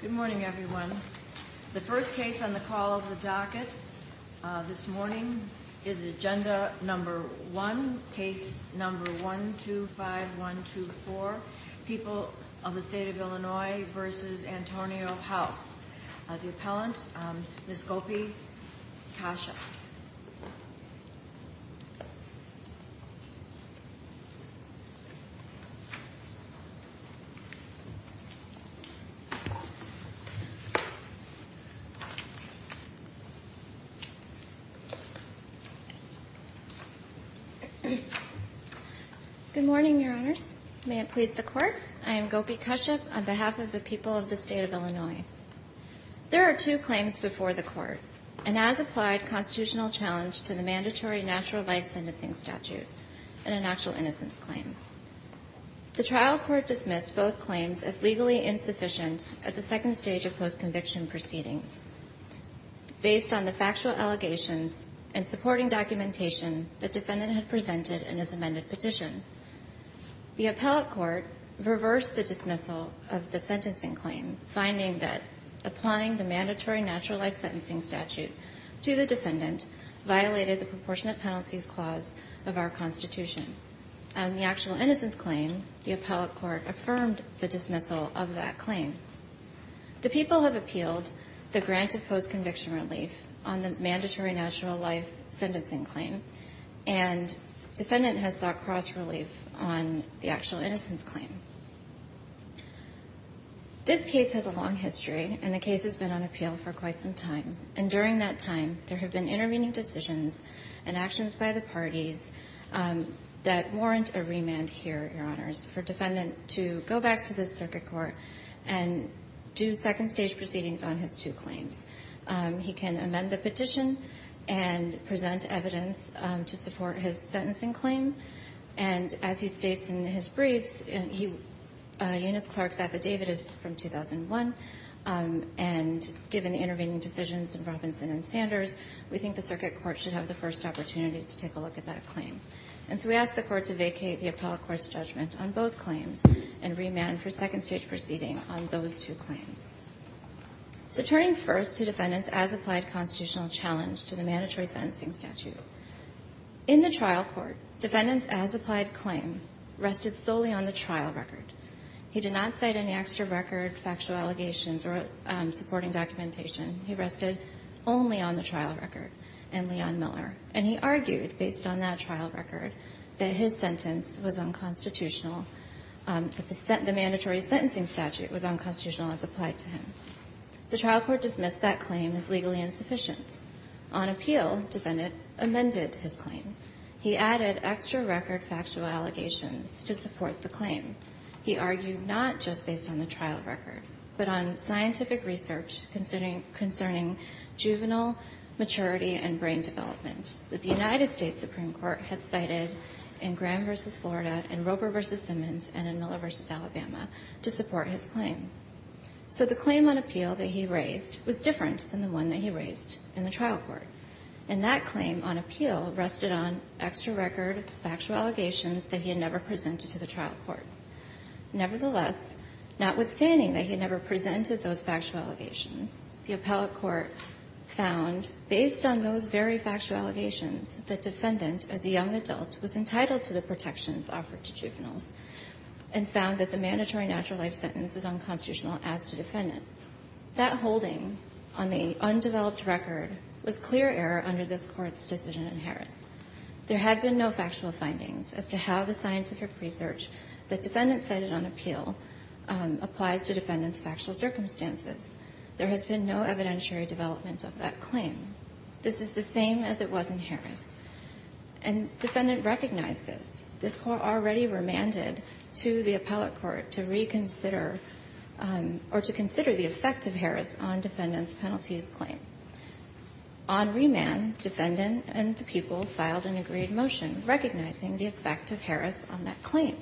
Good morning everyone. The first case on the call of the docket this morning is Agenda No. 1, Case No. 125124, People of the State of Illinois v. Antonio House. The appellant, Ms. Gopi Kashyap. Good morning, Your Honors. May it please the Court, I am Gopi Kashyap on behalf of the People of the State of Illinois. There are two claims before the Court, an as-applied constitutional challenge to the mandatory natural life sentencing statute and an actual innocence claim. The trial court dismissed both claims as legally insufficient at the second stage of post-conviction proceedings. Based on the factual allegations and supporting documentation the defendant had presented in his amended petition, the appellate court reversed the dismissal of the sentencing claim finding that applying the mandatory natural life sentencing statute to the defendant violated the proportionate penalties clause of our Constitution. On the actual innocence claim, the appellate court affirmed the dismissal of that claim. The People have appealed the grant of post-conviction relief on the mandatory natural life sentencing claim and defendant has sought cross relief on the actual innocence claim. This case has a long history and the case has been on appeal for quite some time. And during that time, there have been intervening decisions and actions by the parties that warrant a remand here, Your Honors, for defendant to go back to the circuit court and do second stage proceedings on his two claims. He can amend the petition and present evidence to support his sentencing claim. And as he states in his briefs, Eunice Clark's affidavit is from 2001. And given the intervening decisions in Robinson and Sanders, we think the circuit court should have the first opportunity to take a look at that claim. And so we ask the court to vacate the appellate court's judgment on both claims and remand for second stage proceedings on those two claims. So turning first to defendant's as-applied constitutional challenge to the mandatory sentencing statute. In the trial court, defendant's as-applied claim rested solely on the trial record. He did not cite any extra record, factual allegations, or supporting documentation. He rested only on the trial record and Leon Miller. And he argued based on that trial record that his sentence was unconstitutional, that the mandatory sentencing statute was unconstitutional as applied to him. The trial court dismissed that claim as legally insufficient. On appeal, defendant amended his claim. He added extra record, factual allegations to support the claim. He argued not just based on the trial record, but on scientific research concerning juvenile maturity and brain development that the United States Supreme Court had cited in Graham v. Florida, in Roper v. Simmons, and in Miller v. Alabama to support his claim. So the claim on appeal that he raised was different than the one that he raised in the trial court. And that claim on appeal rested on extra record, factual allegations that he had never presented to the trial court. Nevertheless, notwithstanding that he had never presented those factual allegations, the appellate court found, based on those very factual allegations, that defendant, as a young adult, was entitled to the protections offered to juveniles, and found that the mandatory natural life sentence is unconstitutional as to defendant. That holding on the undeveloped record was clear error under this Court's decision in Harris. There had been no factual findings as to how the scientific research the defendant cited on appeal applies to defendant's factual circumstances. There has been no evidentiary development of that claim. This is the same as it was in Harris. And defendant recognized this. This Court already remanded to the appellate court to reconsider or to consider the effect of Harris on defendant's penalties claim. On remand, defendant and the people filed an agreed motion recognizing the effect of Harris on that claim.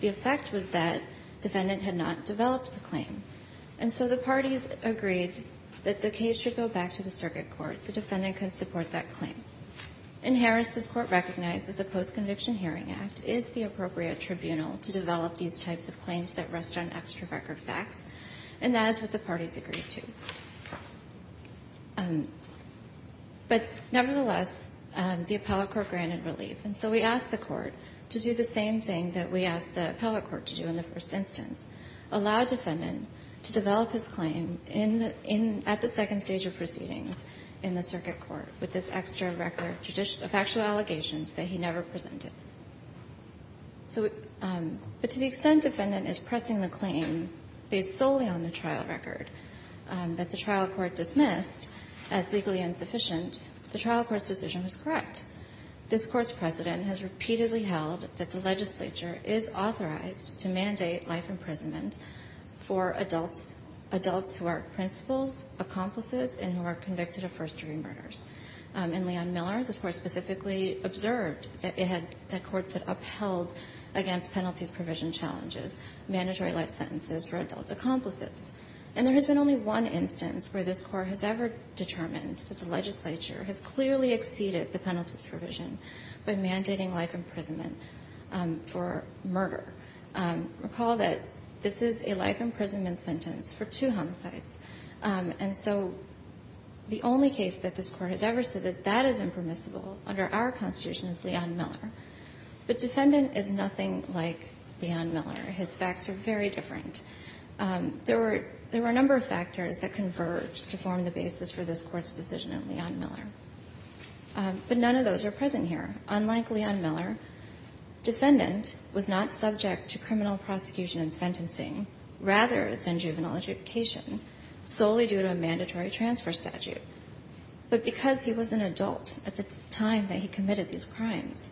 The effect was that defendant had not developed the claim. And so the parties agreed that the case should go back to the circuit court so defendant could support that claim. In Harris, this Court recognized that the Post-Conviction Hearing Act is the appropriate tribunal to develop these types of claims that rest on extra record facts, and that is what the parties agreed to. But nevertheless, the appellate court granted relief. And so we asked the court to do the same thing that we asked the appellate court to do in the first instance, allow defendant to develop his claim at the second stage of proceedings in the circuit court with this extra record of factual allegations that he never presented. But to the extent defendant is pressing the claim based solely on the trial record that the trial court dismissed as legally insufficient, the trial court's decision was correct. This Court's precedent has repeatedly held that the legislature is authorized to mandate life imprisonment for adults who are principals, accomplices, and who are convicted of first-degree murders. In Leon-Miller, this Court specifically observed that it had the courts had upheld against penalties provision challenges, mandatory life sentences for adult accomplices. And there has been only one instance where this Court has ever determined that the legislature has clearly exceeded the penalties provision by mandating life imprisonment for murder. Recall that this is a life imprisonment sentence for two hung sites. And so the only case that this Court has ever said that that is impermissible under our Constitution is Leon-Miller. But defendant is nothing like Leon-Miller. His facts are very different. There were a number of factors that converged to form the basis for this Court's decision in Leon-Miller, but none of those are present here. Unlike Leon-Miller, defendant was not subject to criminal prosecution and sentencing rather than juvenile adjudication solely due to a mandatory transfer statute. But because he was an adult at the time that he committed these crimes,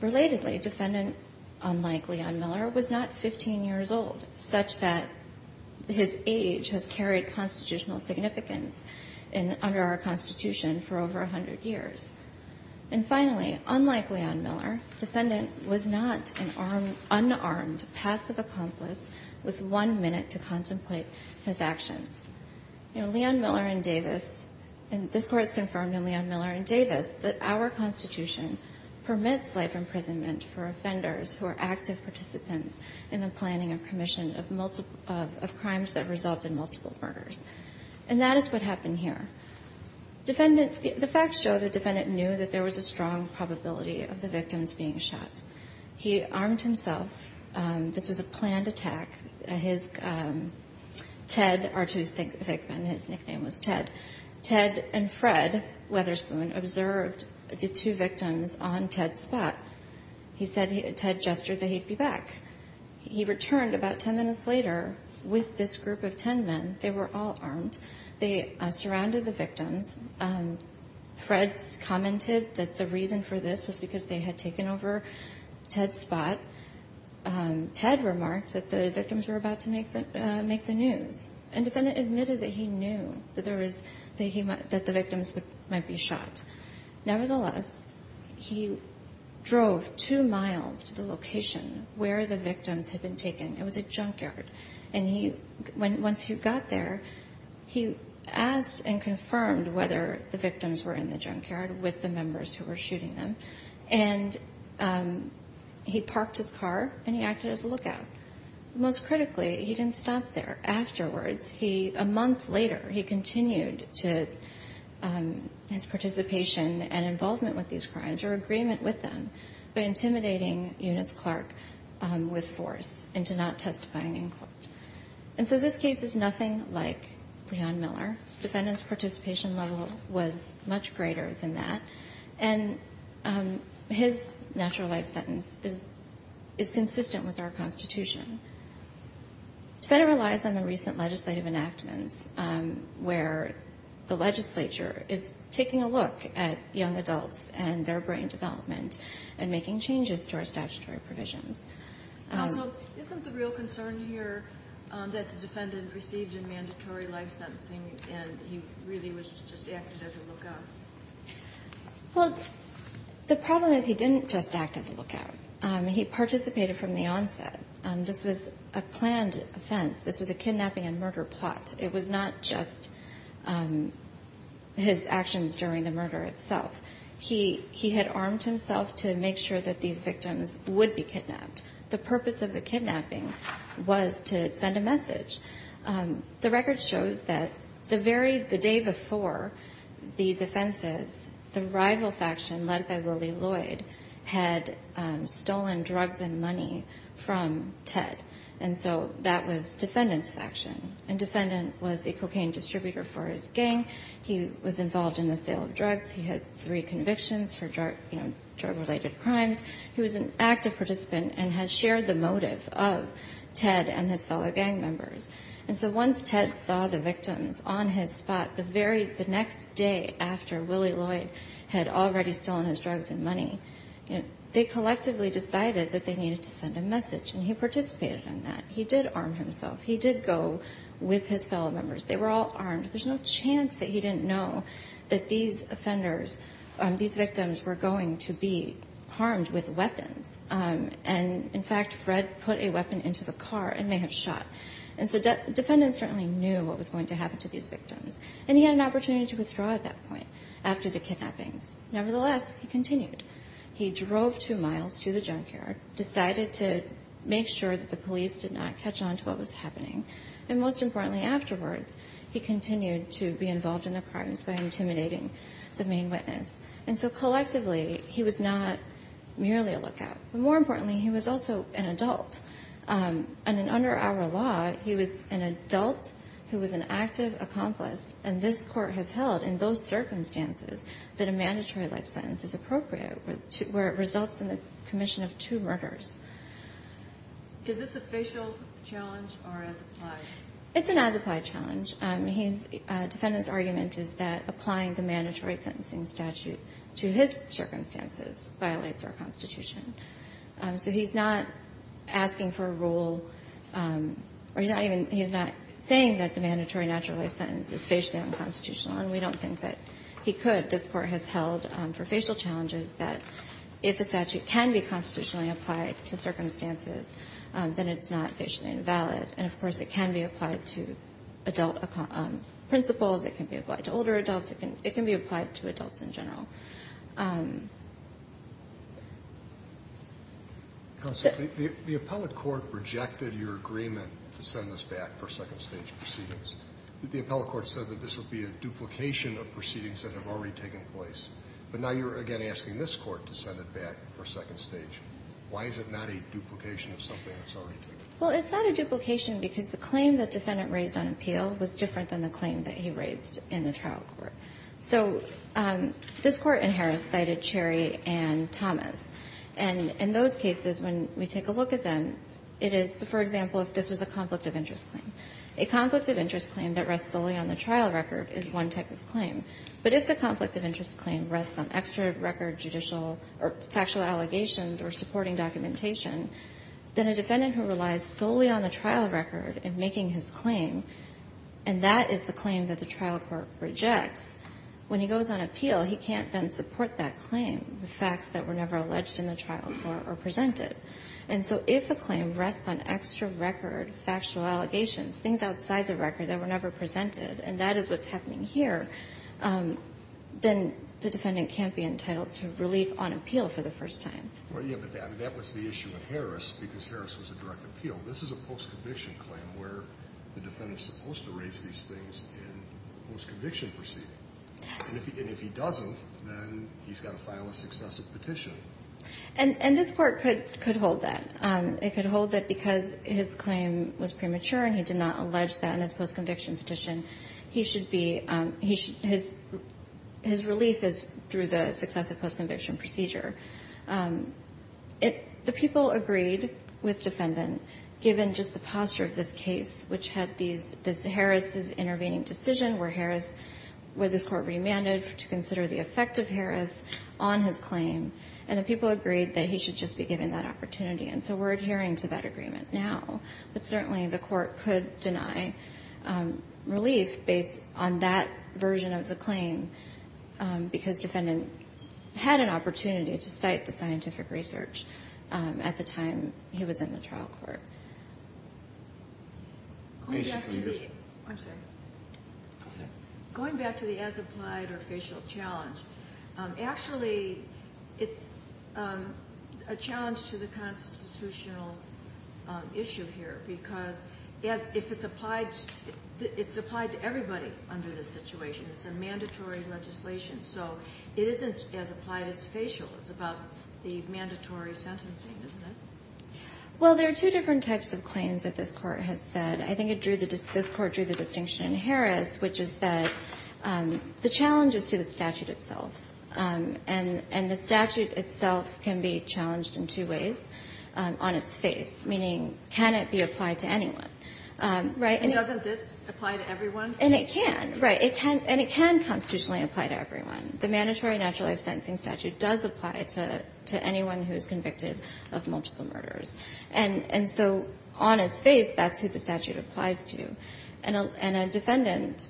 relatedly, defendant, unlike Leon-Miller, was not 15 years old, such that his age has carried constitutional significance under our Constitution for over 100 years. And finally, unlike Leon-Miller, defendant was not an unarmed passive accomplice with one minute to contemplate his actions. You know, Leon-Miller and Davis, and this Court has confirmed in Leon-Miller and Davis that our Constitution permits life imprisonment for offenders who are active participants in the planning and commission of multiple of crimes that result in multiple murders. And that is what happened here. Defendant, the facts show the defendant knew that there was a strong probability of the victims being shot. He armed himself. This was a planned attack. His, Ted, R2's thick man, his nickname was Ted. Ted and Fred Weatherspoon observed the two victims on Ted's spot. He said, Ted gestured that he'd be back. He returned about 10 minutes later with this group of 10 men. They were all armed. They surrounded the victims. Fred commented that the reason for this was because they had taken over Ted's spot. Ted remarked that the victims were about to make the news. And defendant admitted that he knew that the victims might be shot. Nevertheless, he drove two miles to the location where the victims had been taken. It was a junkyard. And he, once he got there, he asked and confirmed whether the victims were in the junkyard with the members who were shooting them. And he parked his car and he acted as a lookout. Most critically, he didn't stop there. Afterwards, he, a month later, he continued to, his participation and involvement with these crimes, or agreement with them, by intimidating Eunice Clark with force into not testifying in court. And so this case is nothing like Leon Miller. Defendant's participation level was much greater than that. And his natural life sentence is consistent with our Constitution. It better relies on the recent legislative enactments where the legislature is taking a look at young adults and their brain development and making changes to our statutory provisions. Counsel, isn't the real concern here that the defendant received a mandatory life sentencing and he really was just acting as a lookout? Well, the problem is he didn't just act as a lookout. He participated from the onset. This was a planned offense. This was a kidnapping and murder plot. It was not just his actions during the murder itself. He had armed himself to make sure that these victims would be kidnapped. The purpose of the kidnapping was to send a message. The record shows that the day before these offenses, the rival faction led by Willie Lloyd had stolen drugs and money from Ted. And so that was defendant's faction. And defendant was a cocaine distributor for his gang. He was involved in the sale of drugs. He had three convictions for drug-related crimes. He was an active participant and has shared the motive of Ted and his fellow gang members. And so once Ted saw the victims on his spot, the next day after Willie Lloyd had already stolen his drugs and money, they collectively decided that they needed to send a message, and he participated in that. He did arm himself. He did go with his fellow members. They were all armed. There's no chance that he didn't know that these offenders, these victims were going to be harmed with weapons. And, in fact, Fred put a weapon into the car and may have shot. And so defendant certainly knew what was going to happen to these victims. And he had an opportunity to withdraw at that point after the kidnappings. Nevertheless, he continued. He drove two miles to the junkyard, decided to make sure that the police did not catch on to what was happening. And most importantly afterwards, he continued to be involved in the crimes by intimidating the main witness. And so collectively, he was not merely a lookout. More importantly, he was also an adult. And under our law, he was an adult who was an active accomplice, and this Court has held in those circumstances that a mandatory life sentence is appropriate, where it results in the commission of two murders. Is this a facial challenge or as applied? It's an as-applied challenge. His defendant's argument is that applying the mandatory sentencing statute to his circumstances violates our Constitution. So he's not asking for a rule, or he's not even he's not saying that the mandatory natural life sentence is facially unconstitutional. And we don't think that he could. This Court has held for facial challenges that if a statute can be constitutionally applied to circumstances, then it's not facially invalid. And, of course, it can be applied to adult principles. It can be applied to older adults. It can be applied to adults in general. Roberts. The appellate court rejected your agreement to send this back for second stage proceedings. The appellate court said that this would be a duplication of proceedings that have already taken place. But now you're again asking this Court to send it back for second stage. Why is it not a duplication of something that's already taken place? Well, it's not a duplication because the claim the defendant raised on appeal was different than the claim that he raised in the trial court. So this Court in Harris cited Cherry and Thomas. And in those cases, when we take a look at them, it is, for example, if this was a conflict of interest claim. A conflict of interest claim that rests solely on the trial record is one type of claim. But if the conflict of interest claim rests on extra record judicial or factual allegations or supporting documentation, then a defendant who relies solely on the trial record in making his claim, and that is the claim that the trial court rejects, when he goes on appeal, he can't then support that claim, the facts that were never alleged in the trial court or presented. And so if a claim rests on extra record factual allegations, things outside the record that were never presented, and that is what's happening here, then the defendant can't be entitled to relief on appeal for the first time. Well, yeah, but that was the issue with Harris because Harris was a direct appeal. This is a post-conviction claim where the defendant is supposed to raise these things in the post-conviction proceeding. And if he doesn't, then he's got to file a successive petition. And this Court could hold that. It could hold that because his claim was premature and he did not allege that in his post-conviction petition, he should be his relief is through the successive post-conviction procedure. The people agreed with defendant, given just the posture of this case, which had these Harris' intervening decision where Harris, where this Court remanded to consider the effect of Harris on his claim, and the people agreed that he should just be given that opportunity. And so we're adhering to that agreement now. But certainly the Court could deny relief based on that version of the claim because defendant had an opportunity to cite the scientific research at the time he was in the trial court. Going back to the as-applied or facial challenge, actually it's a challenge to the constitutional issue here, because if it's applied, it's applied to everybody under this situation. It's a mandatory legislation. So it isn't as applied as facial. It's about the mandatory sentencing, isn't it? Well, there are two different types of claims that this Court has said. I think it drew the distinction in Harris, which is that the challenge is to the statute itself. And the statute itself can be challenged in two ways. On its face, meaning can it be applied to anyone, right? And doesn't this apply to everyone? And it can. Right. And it can constitutionally apply to everyone. The mandatory natural life sentencing statute does apply to anyone who is convicted of multiple murders. And so on its face, that's who the statute applies to. And a defendant,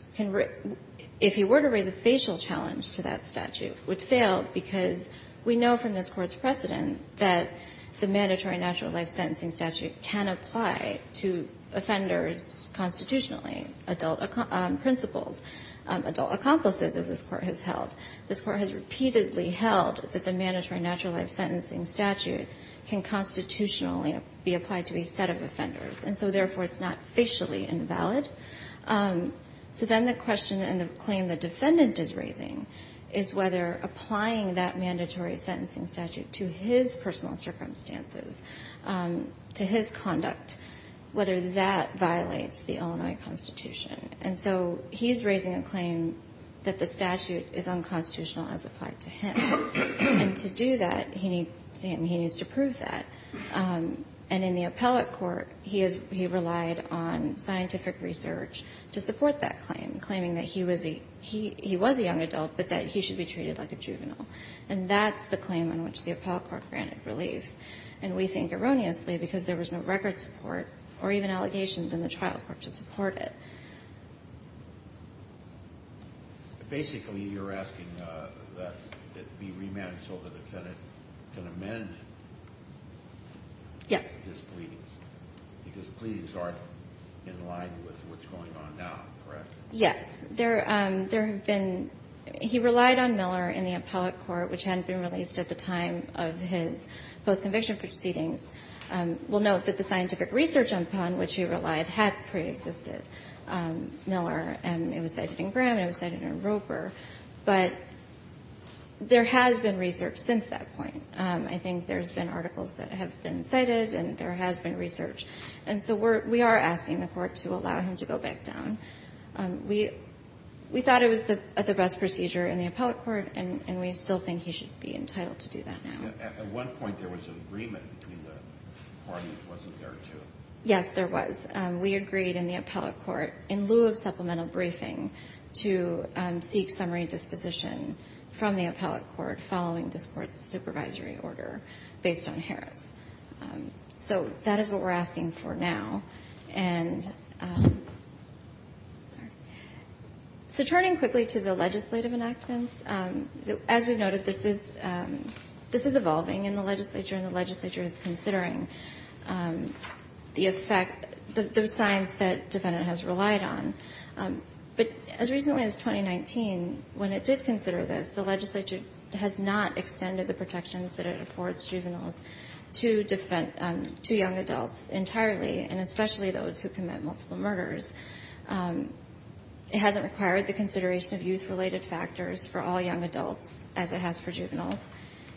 if he were to raise a facial challenge to that statute, would fail because we know from this Court's precedent that the mandatory natural life sentencing statute can apply to offenders constitutionally, adult principals, adult accomplices, as this Court has held. This Court has repeatedly held that the mandatory natural life sentencing statute can constitutionally be applied to a set of offenders. And so, therefore, it's not facially invalid. So then the question and the claim the defendant is raising is whether applying that mandatory sentencing statute to his personal circumstances, to his conduct, whether that violates the Illinois Constitution. And so he's raising a claim that the statute is unconstitutional as applied to him. And to do that, he needs to prove that. And in the appellate court, he relied on scientific research to support that claim, claiming that he was a young adult, but that he should be treated like a juvenile. And that's the claim on which the appellate court granted relief. And we think erroneously because there was no record support or even allegations in the trial court to support it. Basically, you're asking that it be remanded so the defendant can amend his pleadings. Yes. Because pleadings are in line with what's going on now, correct? Yes. There have been – he relied on Miller in the appellate court, which hadn't been released at the time of his post-conviction proceedings. We'll note that the scientific research upon which he relied had preexisted. Miller, and it was cited in Graham, and it was cited in Roper. But there has been research since that point. I think there's been articles that have been cited, and there has been research. And so we are asking the court to allow him to go back down. We thought it was the best procedure in the appellate court, and we still think he should be entitled to do that now. At one point, there was an agreement between the parties. It wasn't there, too. Yes, there was. We agreed in the appellate court, in lieu of supplemental briefing, to seek summary disposition from the appellate court following this Court's supervisory order based on Harris. So that is what we're asking for now. And so turning quickly to the legislative enactments, as we noted, this is evolving in the legislature, and the legislature is considering the effect, the signs that defendant has relied on. But as recently as 2019, when it did consider this, the legislature has not extended the protections that it affords juveniles to young adults entirely, and especially those who commit multiple murders. It hasn't required the consideration of youth-related factors for all young adults, as it has for juveniles.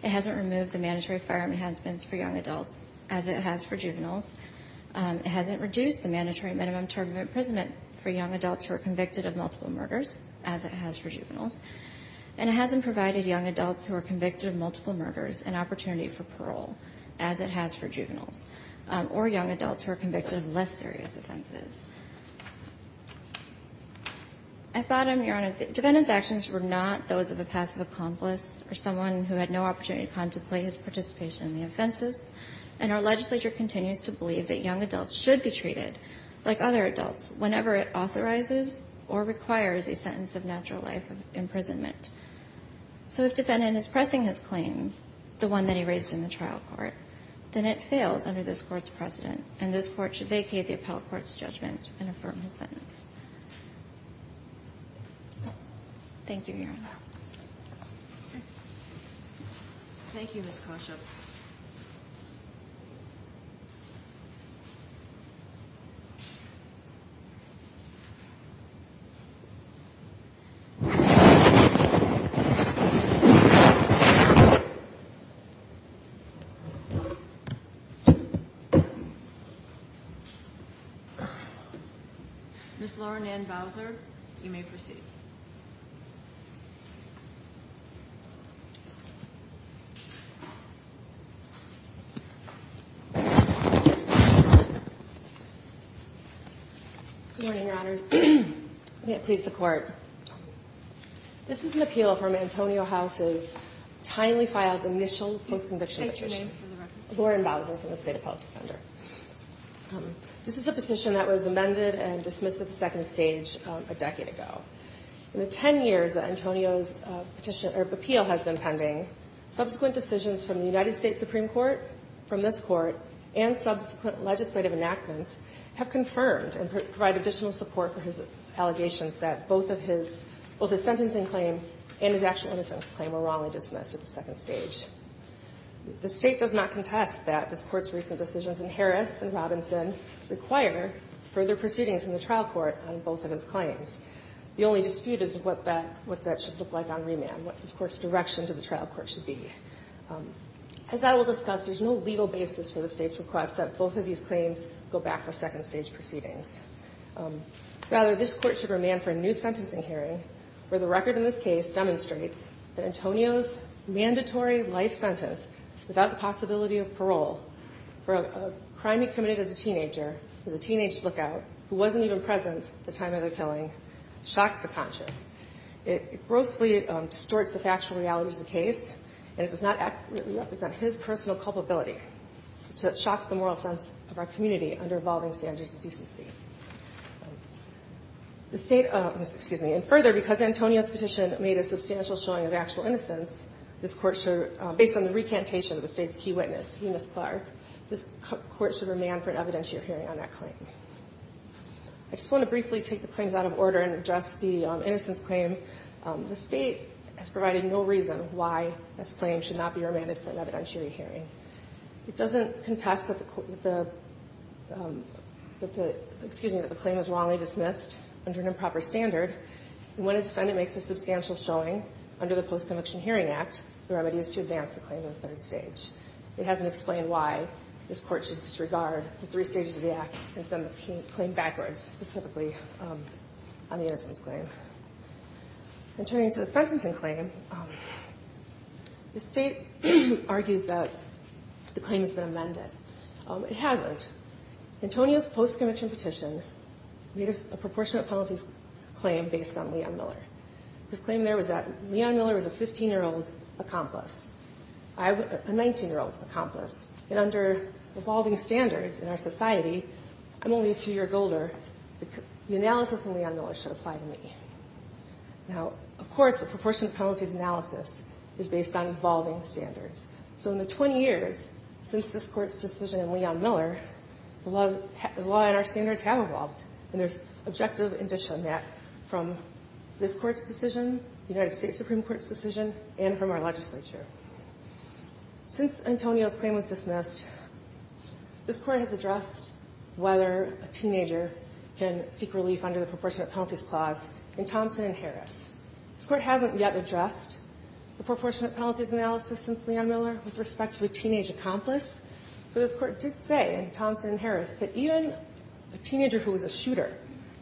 It hasn't removed the mandatory firearm enhancements for young adults, as it has for juveniles. It hasn't reduced the mandatory minimum term of imprisonment for young adults who are convicted of multiple murders, as it has for juveniles. And it hasn't provided young adults who are convicted of multiple murders an opportunity for parole, as it has for juveniles, or young adults who are convicted of less serious offenses. At bottom, Your Honor, defendant's actions were not those of a passive accomplice or someone who had no opportunity to contemplate his participation in the offenses, and our legislature continues to believe that young adults should be treated, like other adults, whenever it authorizes or requires a sentence of natural life imprisonment. So if defendant is pressing his claim, the one that he raised in the trial court, then it fails under this Court's precedent, and this Court should vacate the appellate court's judgment and affirm his sentence. Thank you, Your Honor. Okay. Thank you, Ms. Koshup. Ms. Lauren Ann Bowser, you may proceed. Good morning, Your Honors. May it please the Court. This is an appeal from Antonio House's timely filed initial post-conviction petition. Can you state your name for the record? Lauren Bowser from the State Appellate Defender. This is a petition that was amended and dismissed at the second stage a decade ago. In the 10 years that Antonio's petition or appeal has been pending, subsequent decisions from the United States Supreme Court, from this Court, and subsequent legislative enactments have confirmed and provide additional support for his allegations that both of his ‑‑ both his sentencing claim and his actual innocence claim were wrongly dismissed at the second stage. The State does not contest that this Court's recent decisions in Harris and Robinson require further proceedings in the trial court on both of his claims. The only dispute is what that ‑‑ what that should look like on remand, what this Court's direction to the trial court should be. As I will discuss, there's no legal basis for the State's request that both of these claims go back for second stage proceedings. Rather, this Court should remand for a new sentencing hearing where the record in this case demonstrates that Antonio's mandatory life sentence without the possibility of parole for a crime he committed as a teenager, as a teenage lookout, who wasn't even present at the time of the killing, shocks the conscious. It grossly distorts the factual realities of the case, and it does not accurately represent his personal culpability. So it shocks the moral sense of our community under evolving standards of decency. The State ‑‑ excuse me. And further, because Antonio's petition made a substantial showing of actual innocence, this Court should, based on the recantation of the State's key witness, Eunice Clark, this Court should remand for an evidentiary hearing on that claim. I just want to briefly take the claims out of order and address the innocence claim. The State has provided no reason why this claim should not be remanded for an evidentiary hearing. It doesn't contest that the ‑‑ excuse me, that the claim is wrongly dismissed under an improper standard. When a defendant makes a substantial showing under the Post-Conviction Hearing Act, the remedy is to advance the claim to the third stage. It hasn't explained why this Court should disregard the three stages of the act and send the claim backwards, specifically on the innocence claim. And turning to the sentencing claim, the State argues that the claim has been amended. It hasn't. Antonio's post‑conviction petition made a proportionate penalties claim based on Leon Miller. His claim there was that Leon Miller was a 15‑year‑old accomplice. I was a 19‑year‑old accomplice. And under evolving standards in our society, I'm only a few years older. The analysis in Leon Miller should apply to me. Now, of course, a proportionate penalties analysis is based on evolving standards. So in the 20 years since this Court's decision in Leon Miller, the law and our standards have evolved. And there's objective indicia net from this Court's decision, the United States Supreme Court's decision, and from our legislature. Since Antonio's claim was dismissed, this Court has addressed whether a teenager can seek relief under the proportionate penalties clause in Thompson v. Harris. This Court hasn't yet addressed the proportionate penalties analysis since Leon Miller with respect to a teenage accomplice. But this Court did say in Thompson v. Harris that even a teenager who was a shooter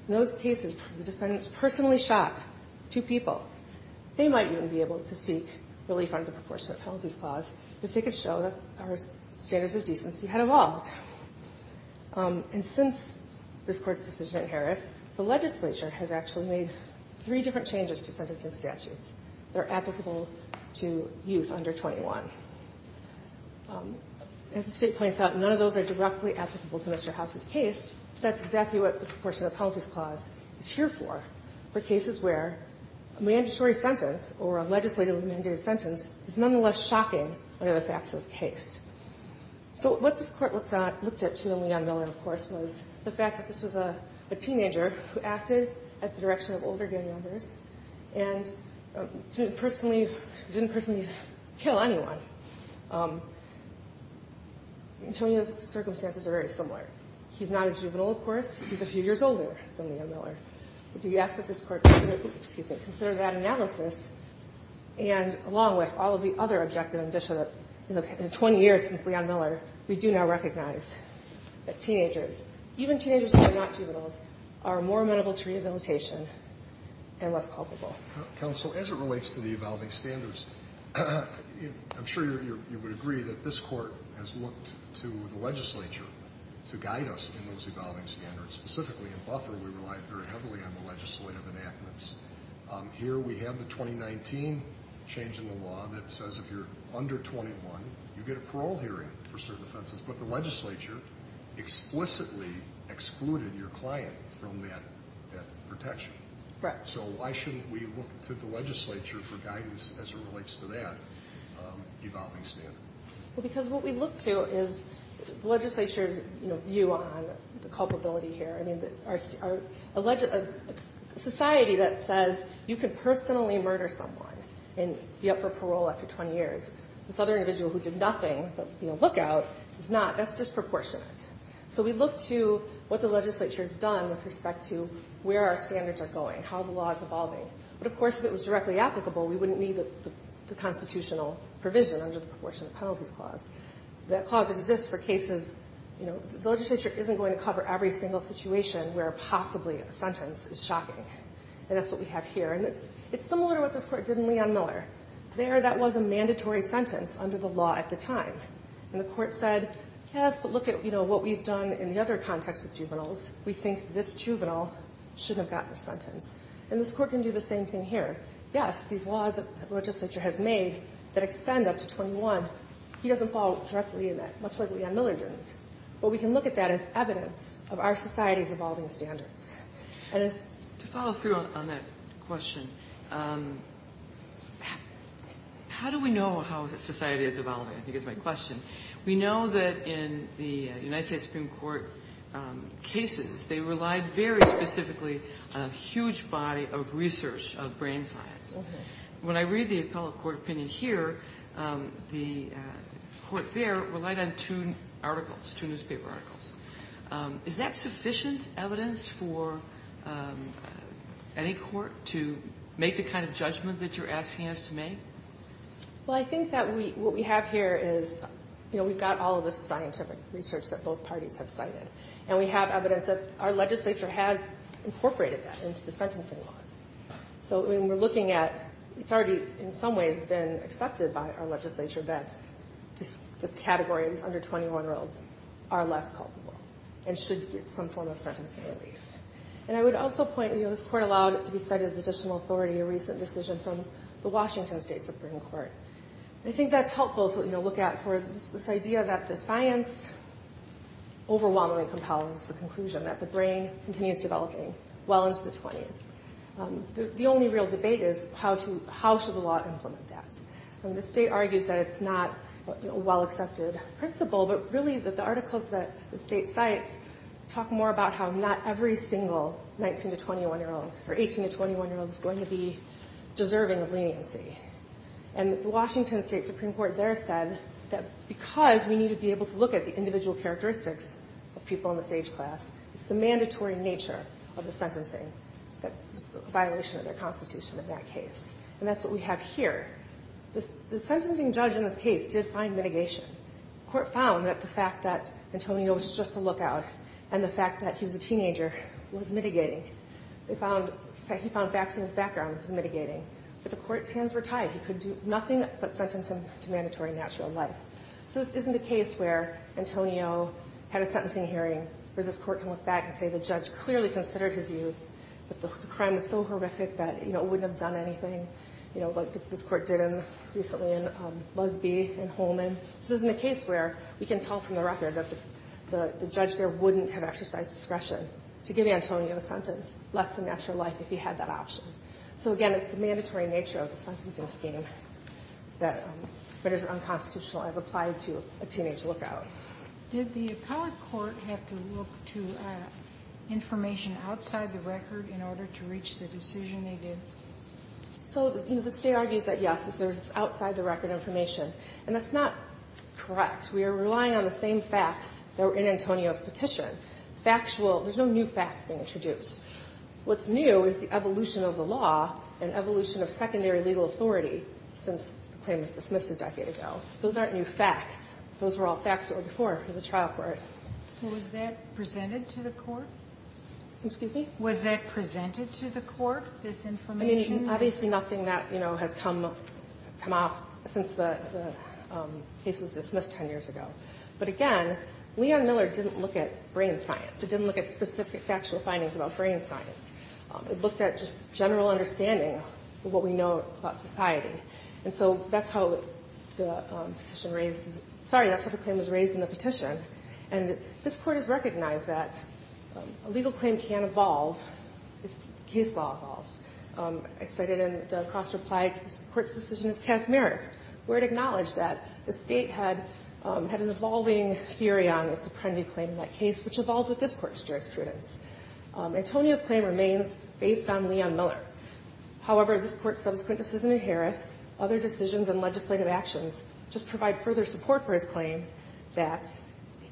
in those cases, the defendants personally shot two people, they might even be able to seek relief under the proportionate penalties clause if they could show that our standards of decency had evolved. And since this Court's decision in Harris, the legislature has actually made three different changes to sentencing statutes that are applicable to youth under 21. As the State points out, none of those are directly applicable to Mr. House's case. That's exactly what the proportionate penalties clause is here for, for cases where a mandatory sentence or a legislatively mandated sentence is nonetheless shocking under the facts of the case. So what this Court looked at to Leon Miller, of course, was the fact that this was a teenager who acted at the direction of older gang members and didn't personally kill anyone. Antonio's circumstances are very similar. He's not a juvenile, of course. He's a few years older than Leon Miller. But do you ask that this Court consider that analysis and, along with all of the other objective indicia that in 20 years since Leon Miller, we do now recognize that teenagers, even teenagers who are not juveniles, are more amenable to rehabilitation and less culpable. Counsel, as it relates to the evolving standards, I'm sure you would agree that this would guide us in those evolving standards. Specifically in Buffer, we relied very heavily on the legislative enactments. Here we have the 2019 change in the law that says if you're under 21, you get a parole hearing for certain offenses. But the legislature explicitly excluded your client from that protection. Correct. So why shouldn't we look to the legislature for guidance as it relates to that evolving standard? Well, because what we look to is the legislature's, you know, view on the culpability here. I mean, our alleged society that says you can personally murder someone and be up for parole after 20 years. This other individual who did nothing but, you know, look out is not. That's disproportionate. So we look to what the legislature has done with respect to where our standards are going, how the law is evolving. But, of course, if it was directly applicable, we wouldn't need the constitutional provision under the proportionate penalties clause. That clause exists for cases, you know, the legislature isn't going to cover every single situation where possibly a sentence is shocking. And that's what we have here. And it's similar to what this Court did in Leon Miller. There that was a mandatory sentence under the law at the time. And the Court said, yes, but look at, you know, what we've done in the other context with juveniles. We think this juvenile shouldn't have gotten a sentence. And this Court can do the same thing here. Yes, these laws that the legislature has made that extend up to 21, he doesn't follow directly in that, much like Leon Miller didn't. But we can look at that as evidence of our society's evolving standards. And as to follow through on that question, how do we know how society is evolving, I think is my question. We know that in the United States Supreme Court cases, they relied very specifically on a huge body of research of brain science. When I read the appellate court opinion here, the court there relied on two articles, two newspaper articles. Is that sufficient evidence for any court to make the kind of judgment that you're asking us to make? Well, I think that what we have here is, you know, we've got all of this scientific research that both parties have cited. And we have evidence that our legislature has incorporated that into the sentencing laws. So when we're looking at, it's already in some ways been accepted by our legislature that this category, these under 21-year-olds, are less culpable and should get some form of sentencing relief. And I would also point, you know, this Court allowed it to be cited as additional authority, a recent decision from the Washington State Supreme Court. And I think that's helpful to look at for this idea that the science overwhelmingly compels the conclusion that the brain continues developing well into the 20s. The only real debate is how should the law implement that? I mean, the state argues that it's not a well-accepted principle, but really that the articles that the state cites talk more about how not every single 19- to 21-year-old or 18- to 21-year-old is going to be deserving of leniency. And the Washington State Supreme Court there said that because we need to be able to look at the individual characteristics of people in this age class, it's the mandatory nature of the sentencing that is a violation of the Constitution in that case. And that's what we have here. The sentencing judge in this case did find mitigation. The Court found that the fact that Antonio was just a lookout and the fact that he was a teenager was mitigating. They found that he found facts in his background was mitigating. But the Court's hands were tied. He could do nothing but sentence him to mandatory natural life. So this isn't a case where Antonio had a sentencing hearing where this Court can look back and say the judge clearly considered his youth, but the crime was so horrific that, you know, it wouldn't have done anything, you know, like this Court did recently in Lusby and Holman. This isn't a case where we can tell from the record that the judge there wouldn't have exercised discretion to give Antonio a sentence less than natural life if he had that option. So, again, it's the mandatory nature of the sentencing scheme that is unconstitutional as applied to a teenage lookout. Did the appellate court have to look to information outside the record in order to reach the decision they did? So, you know, the State argues that, yes, there's outside-the-record information. And that's not correct. We are relying on the same facts that were in Antonio's petition. Factual – there's no new facts being introduced. What's new is the evolution of the law and evolution of secondary legal authority since the claim was dismissed a decade ago. Those aren't new facts. Those were all facts that were before the trial court. Sotomayor was that presented to the Court? Excuse me? Was that presented to the Court, this information? I mean, obviously nothing that, you know, has come off since the case was dismissed 10 years ago. But, again, Leon Miller didn't look at brain science. He didn't look at specific factual findings about brain science. He looked at just general understanding of what we know about society. And so that's how the petition raised – sorry, that's how the claim was raised in the petition. And this Court has recognized that a legal claim can evolve if case law evolves. I cited in the cross-reply, the Court's decision is casmeric, where it acknowledged that the State had an evolving theory on its apprendee claim in that case, which evolved with this Court's jurisprudence. Antonia's claim remains based on Leon Miller. However, this Court's subsequent decision in Harris, other decisions, and legislative actions just provide further support for his claim that,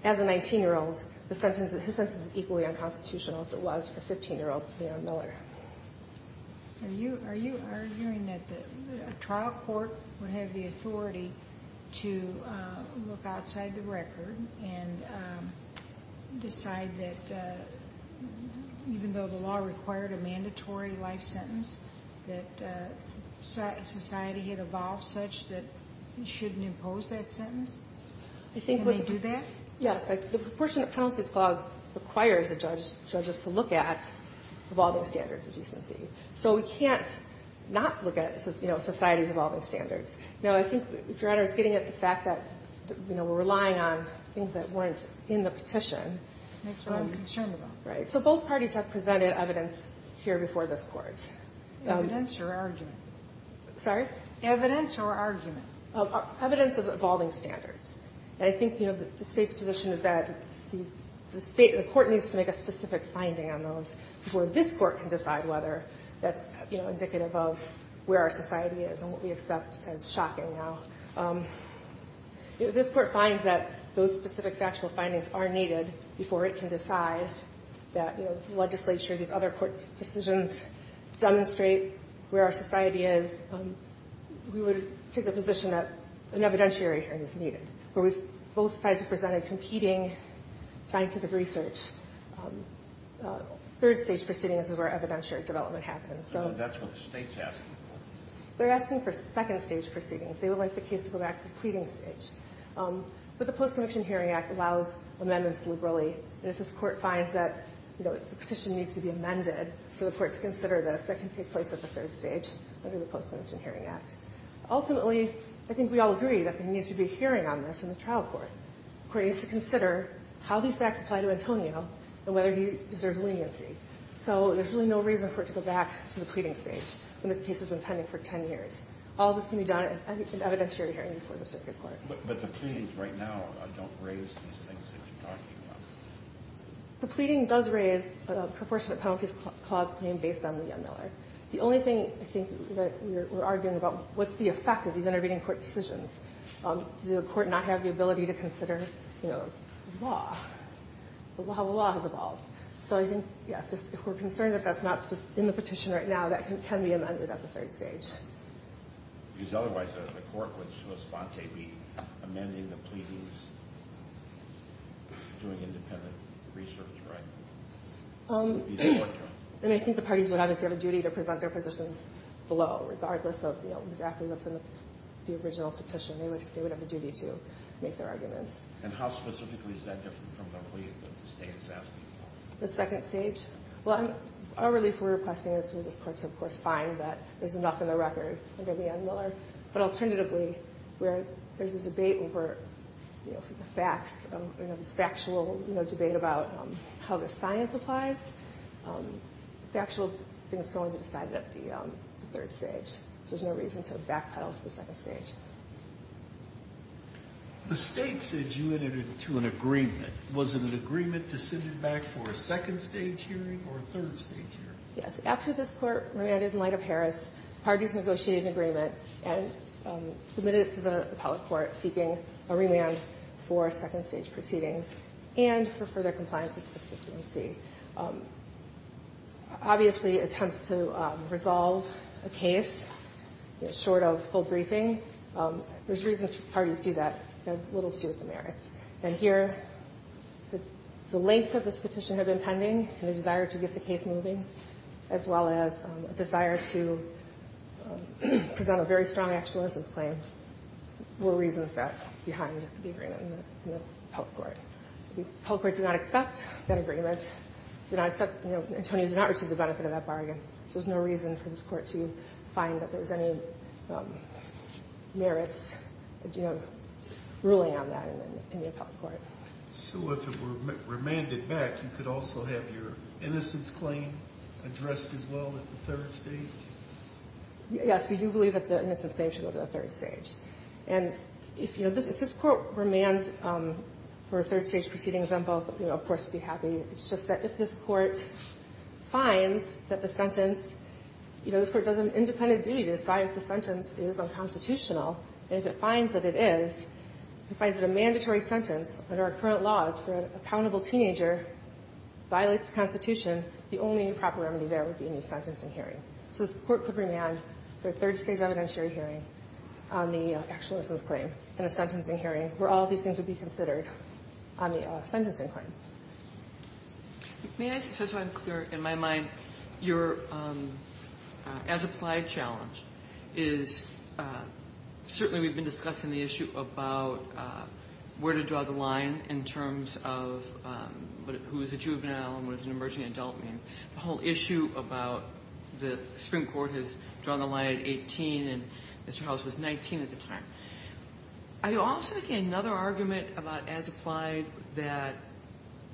as a 19-year-old, his sentence is equally unconstitutional as it was for 15-year-old Leon Miller. Are you arguing that a trial court would have the authority to look outside the record and decide that even though the law required a mandatory life sentence, that society had evolved such that it shouldn't impose that sentence? Can they do that? Yes. The proportionate penalties clause requires the judges to look at evolving standards of decency. So we can't not look at, you know, society's evolving standards. Now, I think, if Your Honor is getting at the fact that, you know, we're relying on things that weren't in the petition. That's what I'm concerned about. Right. So both parties have presented evidence here before this Court. Evidence or argument? Sorry? Evidence or argument? Evidence of evolving standards. And I think, you know, the State's position is that the State, the Court needs to make a specific finding on those before this Court can decide whether that's, you know, where our society is and what we accept as shocking now. If this Court finds that those specific factual findings are needed before it can decide that, you know, the legislature, these other court's decisions demonstrate where our society is, we would take the position that an evidentiary hearing is needed, where we've both sides have presented competing scientific research. Third-stage proceedings is where evidentiary development happens. So that's what the State's asking for. They're asking for second-stage proceedings. They would like the case to go back to the pleading stage. But the Post-Conviction Hearing Act allows amendments liberally. And if this Court finds that, you know, the petition needs to be amended for the Court to consider this, that can take place at the third stage under the Post-Conviction Hearing Act. Ultimately, I think we all agree that there needs to be a hearing on this in the trial court. The Court needs to consider how these facts apply to Antonio and whether he deserves leniency. So there's really no reason for it to go back to the pleading stage when this case has been pending for 10 years. All of this can be done at an evidentiary hearing before the circuit court. But the pleadings right now don't raise these things that you're talking about. The pleading does raise a proportionate penalties clause claim based on the Miller. The only thing I think that we're arguing about, what's the effect of these intervening court decisions? Does the court not have the ability to consider, you know, the law, how the law has evolved? So I think, yes, if we're concerned that that's not in the petition right now, that can be amended at the third stage. Because otherwise, the Court would, to a sponte, be amending the pleadings, doing independent research, right? And I think the parties would obviously have a duty to present their positions below, regardless of, you know, exactly what's in the original petition. They would have a duty to make their arguments. And how specifically is that different from the plea that the State is asking for? The second stage? Well, our relief we're requesting is that this Court, of course, find that there's enough in the record under the Ed Miller. But alternatively, where there's a debate over, you know, the facts, you know, this factual, you know, debate about how the science applies, the actual thing is going to be decided at the third stage. So there's no reason to backpedal to the second stage. The State said you entered into an agreement. Was it an agreement to send it back for a second-stage hearing or a third-stage hearing? Yes. After this Court remanded in light of Harris, parties negotiated an agreement and submitted it to the appellate court, seeking a remand for second-stage proceedings and for further compliance with the 16th AMC. Obviously, attempts to resolve a case short of full briefing, there's reasons for parties to do that. They have little to do with the merits. And here, the length of this petition had been pending and the desire to get the case moving, as well as a desire to present a very strong actual innocence claim, little reason for that behind the agreement in the appellate court. The appellate court did not accept that agreement, did not accept, you know, Antonio did not receive the benefit of that bargain. So there's no reason for this Court to find that there was any merits, you know, ruling on that in the appellate court. So if it were remanded back, you could also have your innocence claim addressed as well at the third stage? Yes, we do believe that the innocence claim should go to the third stage. And if, you know, if this Court remands for a third-stage proceeding example, you know, of course we'd be happy. It's just that if this Court finds that the sentence, you know, this Court does an independent duty to decide if the sentence is unconstitutional, and if it finds that it is, it finds that a mandatory sentence under our current laws for an accountable teenager violates the Constitution, the only proper remedy there would be a new sentencing hearing. So this Court could remand for a third-stage evidentiary hearing on the actual innocence claim and a sentencing hearing where all of these things would be considered on the sentencing claim. May I say, just so I'm clear in my mind, your as-applied challenge is certainly we've been discussing the issue about where to draw the line in terms of who is a juvenile and what an emerging adult means. The whole issue about the Supreme Court has drawn the line at 18, and Mr. Howells was 19 at the time. Are you also making another argument about as-applied that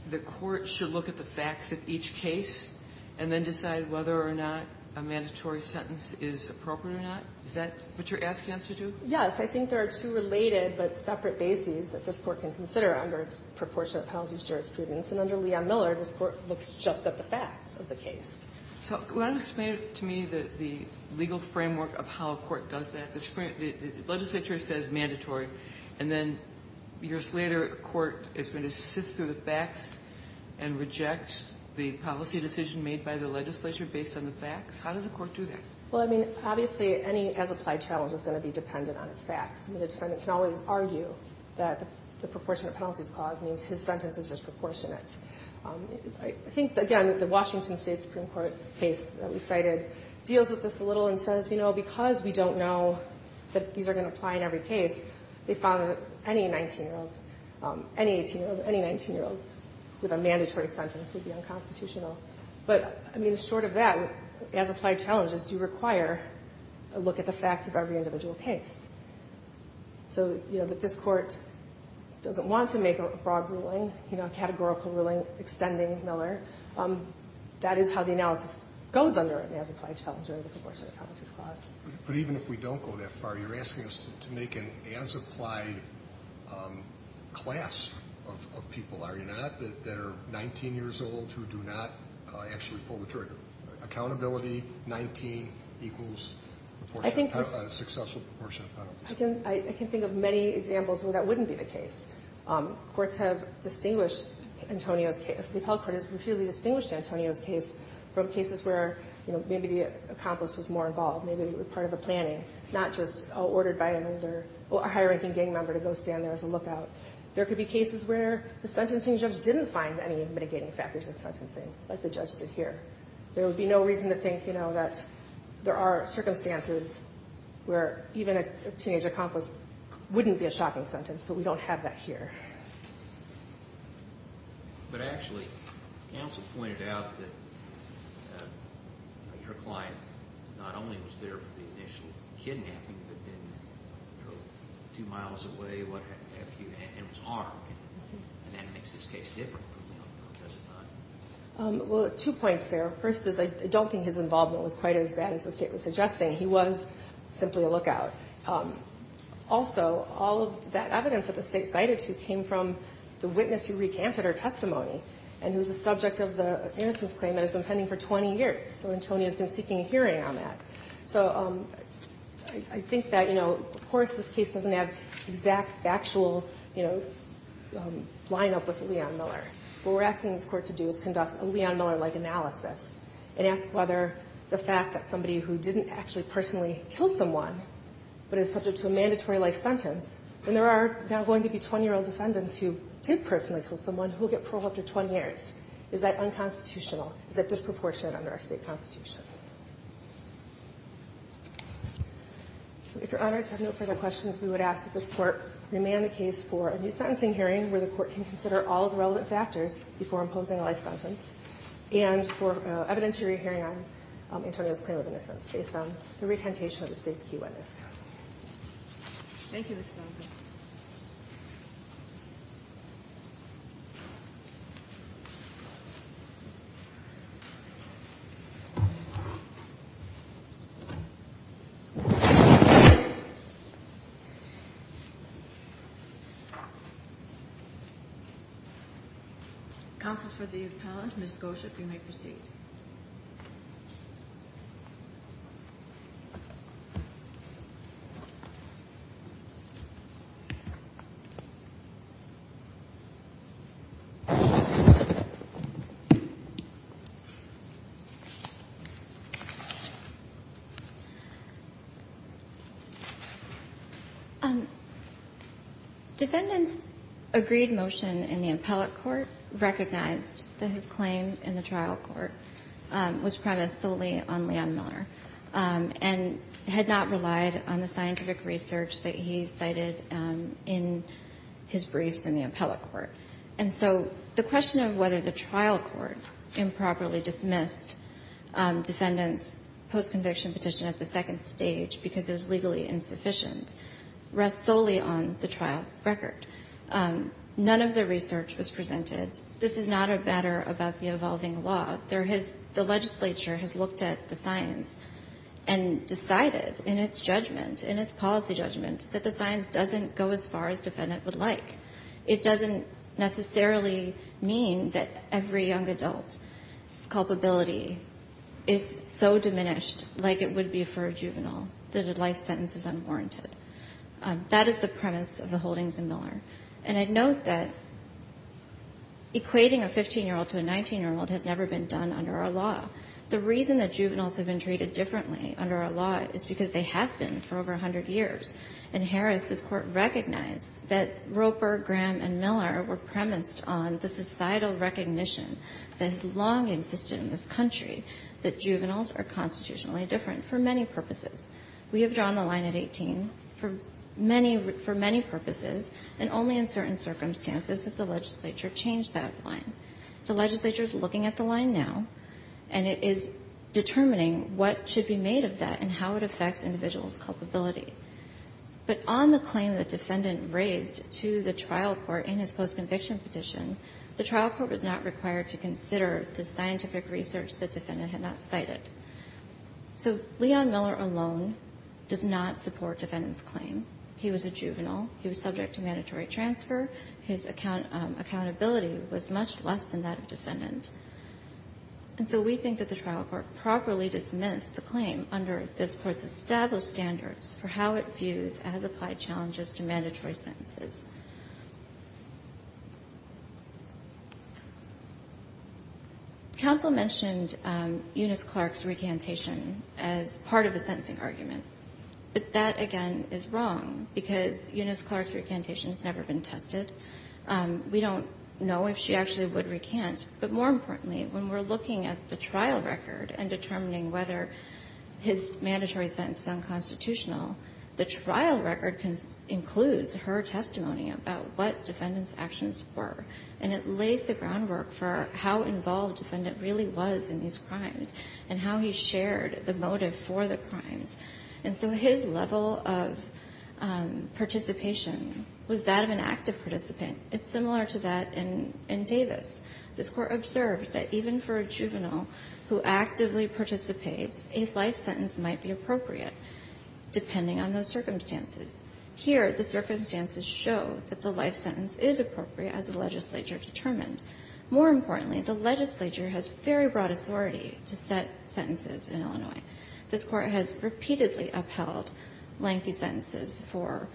the Court should look at the facts of each case and then decide whether or not a mandatory sentence is appropriate or not? Is that what you're asking us to do? Yes. I think there are two related but separate bases that this Court can consider under its proportionate penalties jurisprudence. And under Leon Miller, this Court looks just at the facts of the case. So can you explain to me the legal framework of how a court does that? The legislature says mandatory, and then years later, a court is going to sift through the facts and reject the policy decision made by the legislature based on the facts? How does the Court do that? Well, I mean, obviously, any as-applied challenge is going to be dependent on its facts. The defendant can always argue that the proportionate penalties clause means his case is disproportionate. I think, again, that the Washington State Supreme Court case that we cited deals with this a little and says, you know, because we don't know that these are going to apply in every case, they found that any 19-year-old, any 18-year-old, any 19-year-old with a mandatory sentence would be unconstitutional. But, I mean, short of that, as-applied challenges do require a look at the facts of every individual case. So, you know, that this Court doesn't want to make a broad ruling, you know, a categorical ruling extending Miller. That is how the analysis goes under an as-applied challenge or the proportionate penalties clause. But even if we don't go that far, you're asking us to make an as-applied class of people, are you not, that are 19 years old who do not actually pull the trigger? Accountability, 19 equals proportionate penalty. A successful proportionate penalty. I can think of many examples where that wouldn't be the case. Courts have distinguished Antonio's case. The appellate court has repeatedly distinguished Antonio's case from cases where, you know, maybe the accomplice was more involved. Maybe they were part of a planning, not just ordered by an older or higher-ranking gang member to go stand there as a lookout. There could be cases where the sentencing judge didn't find any mitigating factors in sentencing, like the judge did here. There would be no reason to think, you know, that there are circumstances where even a teenage accomplice wouldn't be a shocking sentence. But we don't have that here. But actually, counsel pointed out that your client not only was there for the initial kidnapping, but then two miles away and was harmed. And that makes this case different. Does it not? Well, two points there. First is I don't think his involvement was quite as bad as the State was suggesting. He was simply a lookout. Also, all of that evidence that the State cited came from the witness who recanted her testimony and who is the subject of the innocence claim and has been pending for 20 years. So Antonio has been seeking a hearing on that. So I think that, you know, of course this case doesn't have exact factual, you know, lineup with Leon Miller. What we're asking this Court to do is conduct a Leon Miller-like analysis and ask whether the fact that somebody who didn't actually personally kill someone but is subject to a mandatory life sentence, and there are now going to be 20-year-old defendants who did personally kill someone who will get parole after 20 years, is that unconstitutional? Is that disproportionate under our State constitution? So if Your Honors have no further questions, we would ask that this Court remand the case for a new sentencing hearing where the Court can consider all of the relevant factors before imposing a life sentence and for evidentiary hearing on Antonio's claim of innocence based on the recantation of the State's key witness. Thank you, Ms. Rosas. Counsel for the appellant, Ms. Gosher, you may proceed. Thank you. Defendant's agreed motion in the appellate court recognized that his claim in the trial court was premised solely on Leon Miller and had not relied on the scientific research that he cited in his briefs in the appellate court. And so the question of whether the trial court improperly dismissed defendant's postconviction petition at the second stage because it was legally insufficient rests solely on the trial record. None of the research was presented. This is not a batter about the evolving law. There has the legislature has looked at the science and decided in its judgment, in its policy judgment, that the science doesn't go as far as defendant would like. It doesn't necessarily mean that every young adult's culpability is so diminished like it would be for a juvenile, that a life sentence is unwarranted. That is the premise of the holdings in Miller. And I note that equating a 15-year-old to a 19-year-old has never been done under our law. The reason that juveniles have been treated differently under our law is because they have been for over 100 years. In Harris, this Court recognized that Roper, Graham, and Miller were premised on the societal recognition that has long existed in this country, that juveniles are constitutionally different for many purposes. We have drawn the line at 18 for many purposes, and only in certain circumstances has the legislature changed that line. The legislature is looking at the line now, and it is determining what should be made of that and how it affects individuals' culpability. But on the claim the defendant raised to the trial court in his post-conviction petition, the trial court was not required to consider the scientific research the defendant had not cited. So Leon Miller alone does not support defendant's claim. He was a juvenile. He was subject to mandatory transfer. His accountability was much less than that of defendant. And so we think that the trial court properly dismissed the claim under this Court's established standards for how it views as applied challenges to mandatory sentences. Counsel mentioned Eunice Clark's recantation as part of a sentencing argument. But that, again, is wrong, because Eunice Clark's recantation has never been tested. We don't know if she actually would recant. But more importantly, when we're looking at the trial record and determining whether his mandatory sentence is unconstitutional, the trial record includes her testimony about what defendant's actions were. And it lays the groundwork for how involved the defendant really was in these crimes and how he shared the motive for the crimes. And so his level of participation was that of an active participant. It's similar to that in Davis. This Court observed that even for a juvenile who actively participates, a life sentence might be appropriate, depending on those circumstances. Here, the circumstances show that the life sentence is appropriate as the legislature determined. More importantly, the legislature has very broad authority to set sentences in Illinois. This Court has repeatedly upheld lengthy sentences for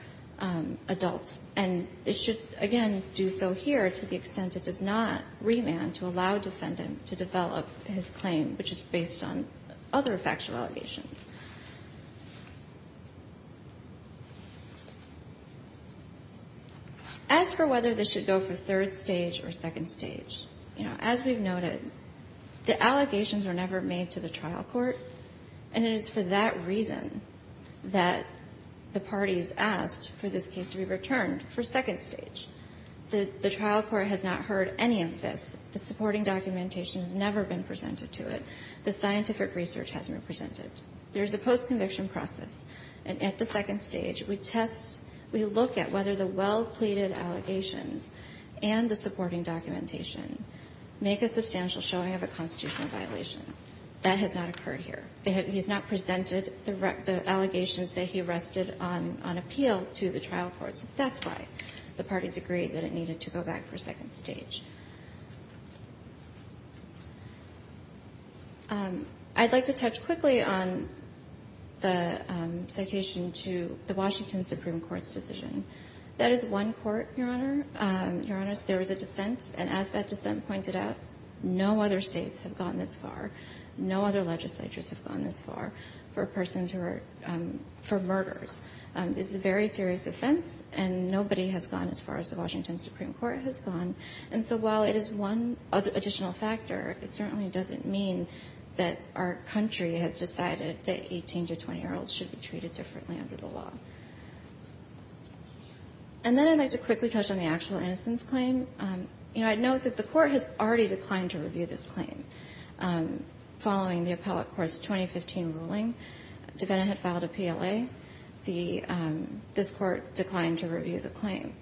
adults, and it should, again, do so here to the extent it does not remand to allow defendant to develop his claim, which is based on other factual allegations. As for whether this should go for third stage or second stage, you know, as we've noted, the allegations were never made to the trial court, and it is for that reason that the parties asked for this case to be returned for second stage. The trial court has not heard any of this. The supporting documentation has never been presented to it. The scientific research hasn't been presented. There is a post-conviction process, and at the second stage, we test, we look at whether the well-pleaded allegations and the supporting documentation make a substantial showing of a constitutional violation. That has not occurred here. He has not presented the allegations that he rested on appeal to the trial courts. That's why the parties agreed that it needed to go back for second stage. I'd like to touch quickly on the citation to the Washington Supreme Court's decision. That is one court, Your Honor. Your Honors, there was a dissent, and as that dissent pointed out, no other states have gone this far. No other legislatures have gone this far for persons who are for murders. This is a very serious offense, and nobody has gone as far as the Washington Supreme Court has gone. And so while it is one additional factor, it certainly doesn't mean that our country has decided that 18- to 20-year-olds should be treated differently under the law. And then I'd like to quickly touch on the actual innocence claim. You know, I'd note that the Court has already declined to review this claim. Following the appellate court's 2015 ruling, Devena had filed a PLA. This Court declined to review the claim.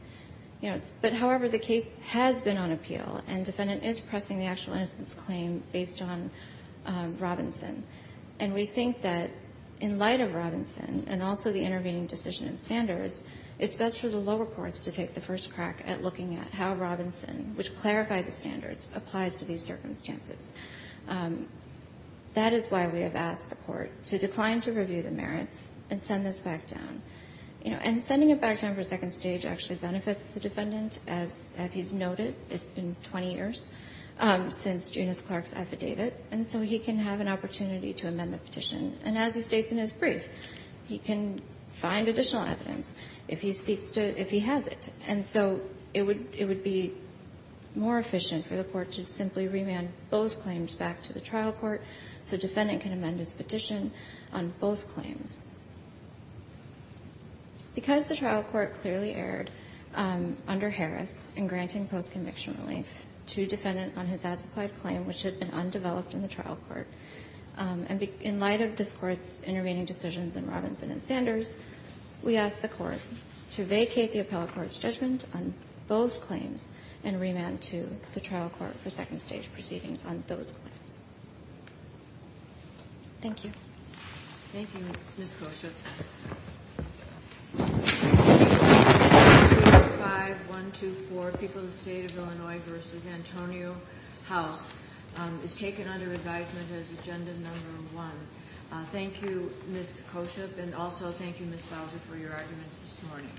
You know, but however, the case has been on appeal, and defendant is pressing the actual innocence claim based on Robinson. And we think that in light of Robinson and also the intervening decision in Sanders, it's best for the lower courts to take the first crack at looking at how Robinson, which clarified the standards, applies to these circumstances. That is why we have asked the Court to decline to review the merits and send this back down. You know, and sending it back down for a second stage actually benefits the defendant, as he's noted. It's been 20 years since Junius Clark's affidavit, and so he can have an opportunity to amend the petition. And as he states in his brief, he can find additional evidence if he seeks to – if he has it. And so it would be more efficient for the Court to simply remand both claims back to the trial court so the defendant can amend his petition on both claims. Because the trial court clearly erred under Harris in granting postconviction relief to a defendant on his as-applied claim, which had been undeveloped in the trial court, and in light of this Court's intervening decisions in Robinson and Sanders, we ask the Court to vacate the appellate court's judgment on both claims and remand to the trial court for second stage proceedings on those claims. Thank you. Thank you, Ms. Koshyp. 5-124, People of the State of Illinois v. Antonio House, is taken under advisement as Agenda No. 1. Thank you, Ms. Koshyp, and also thank you, Ms. Bowser, for your arguments this morning.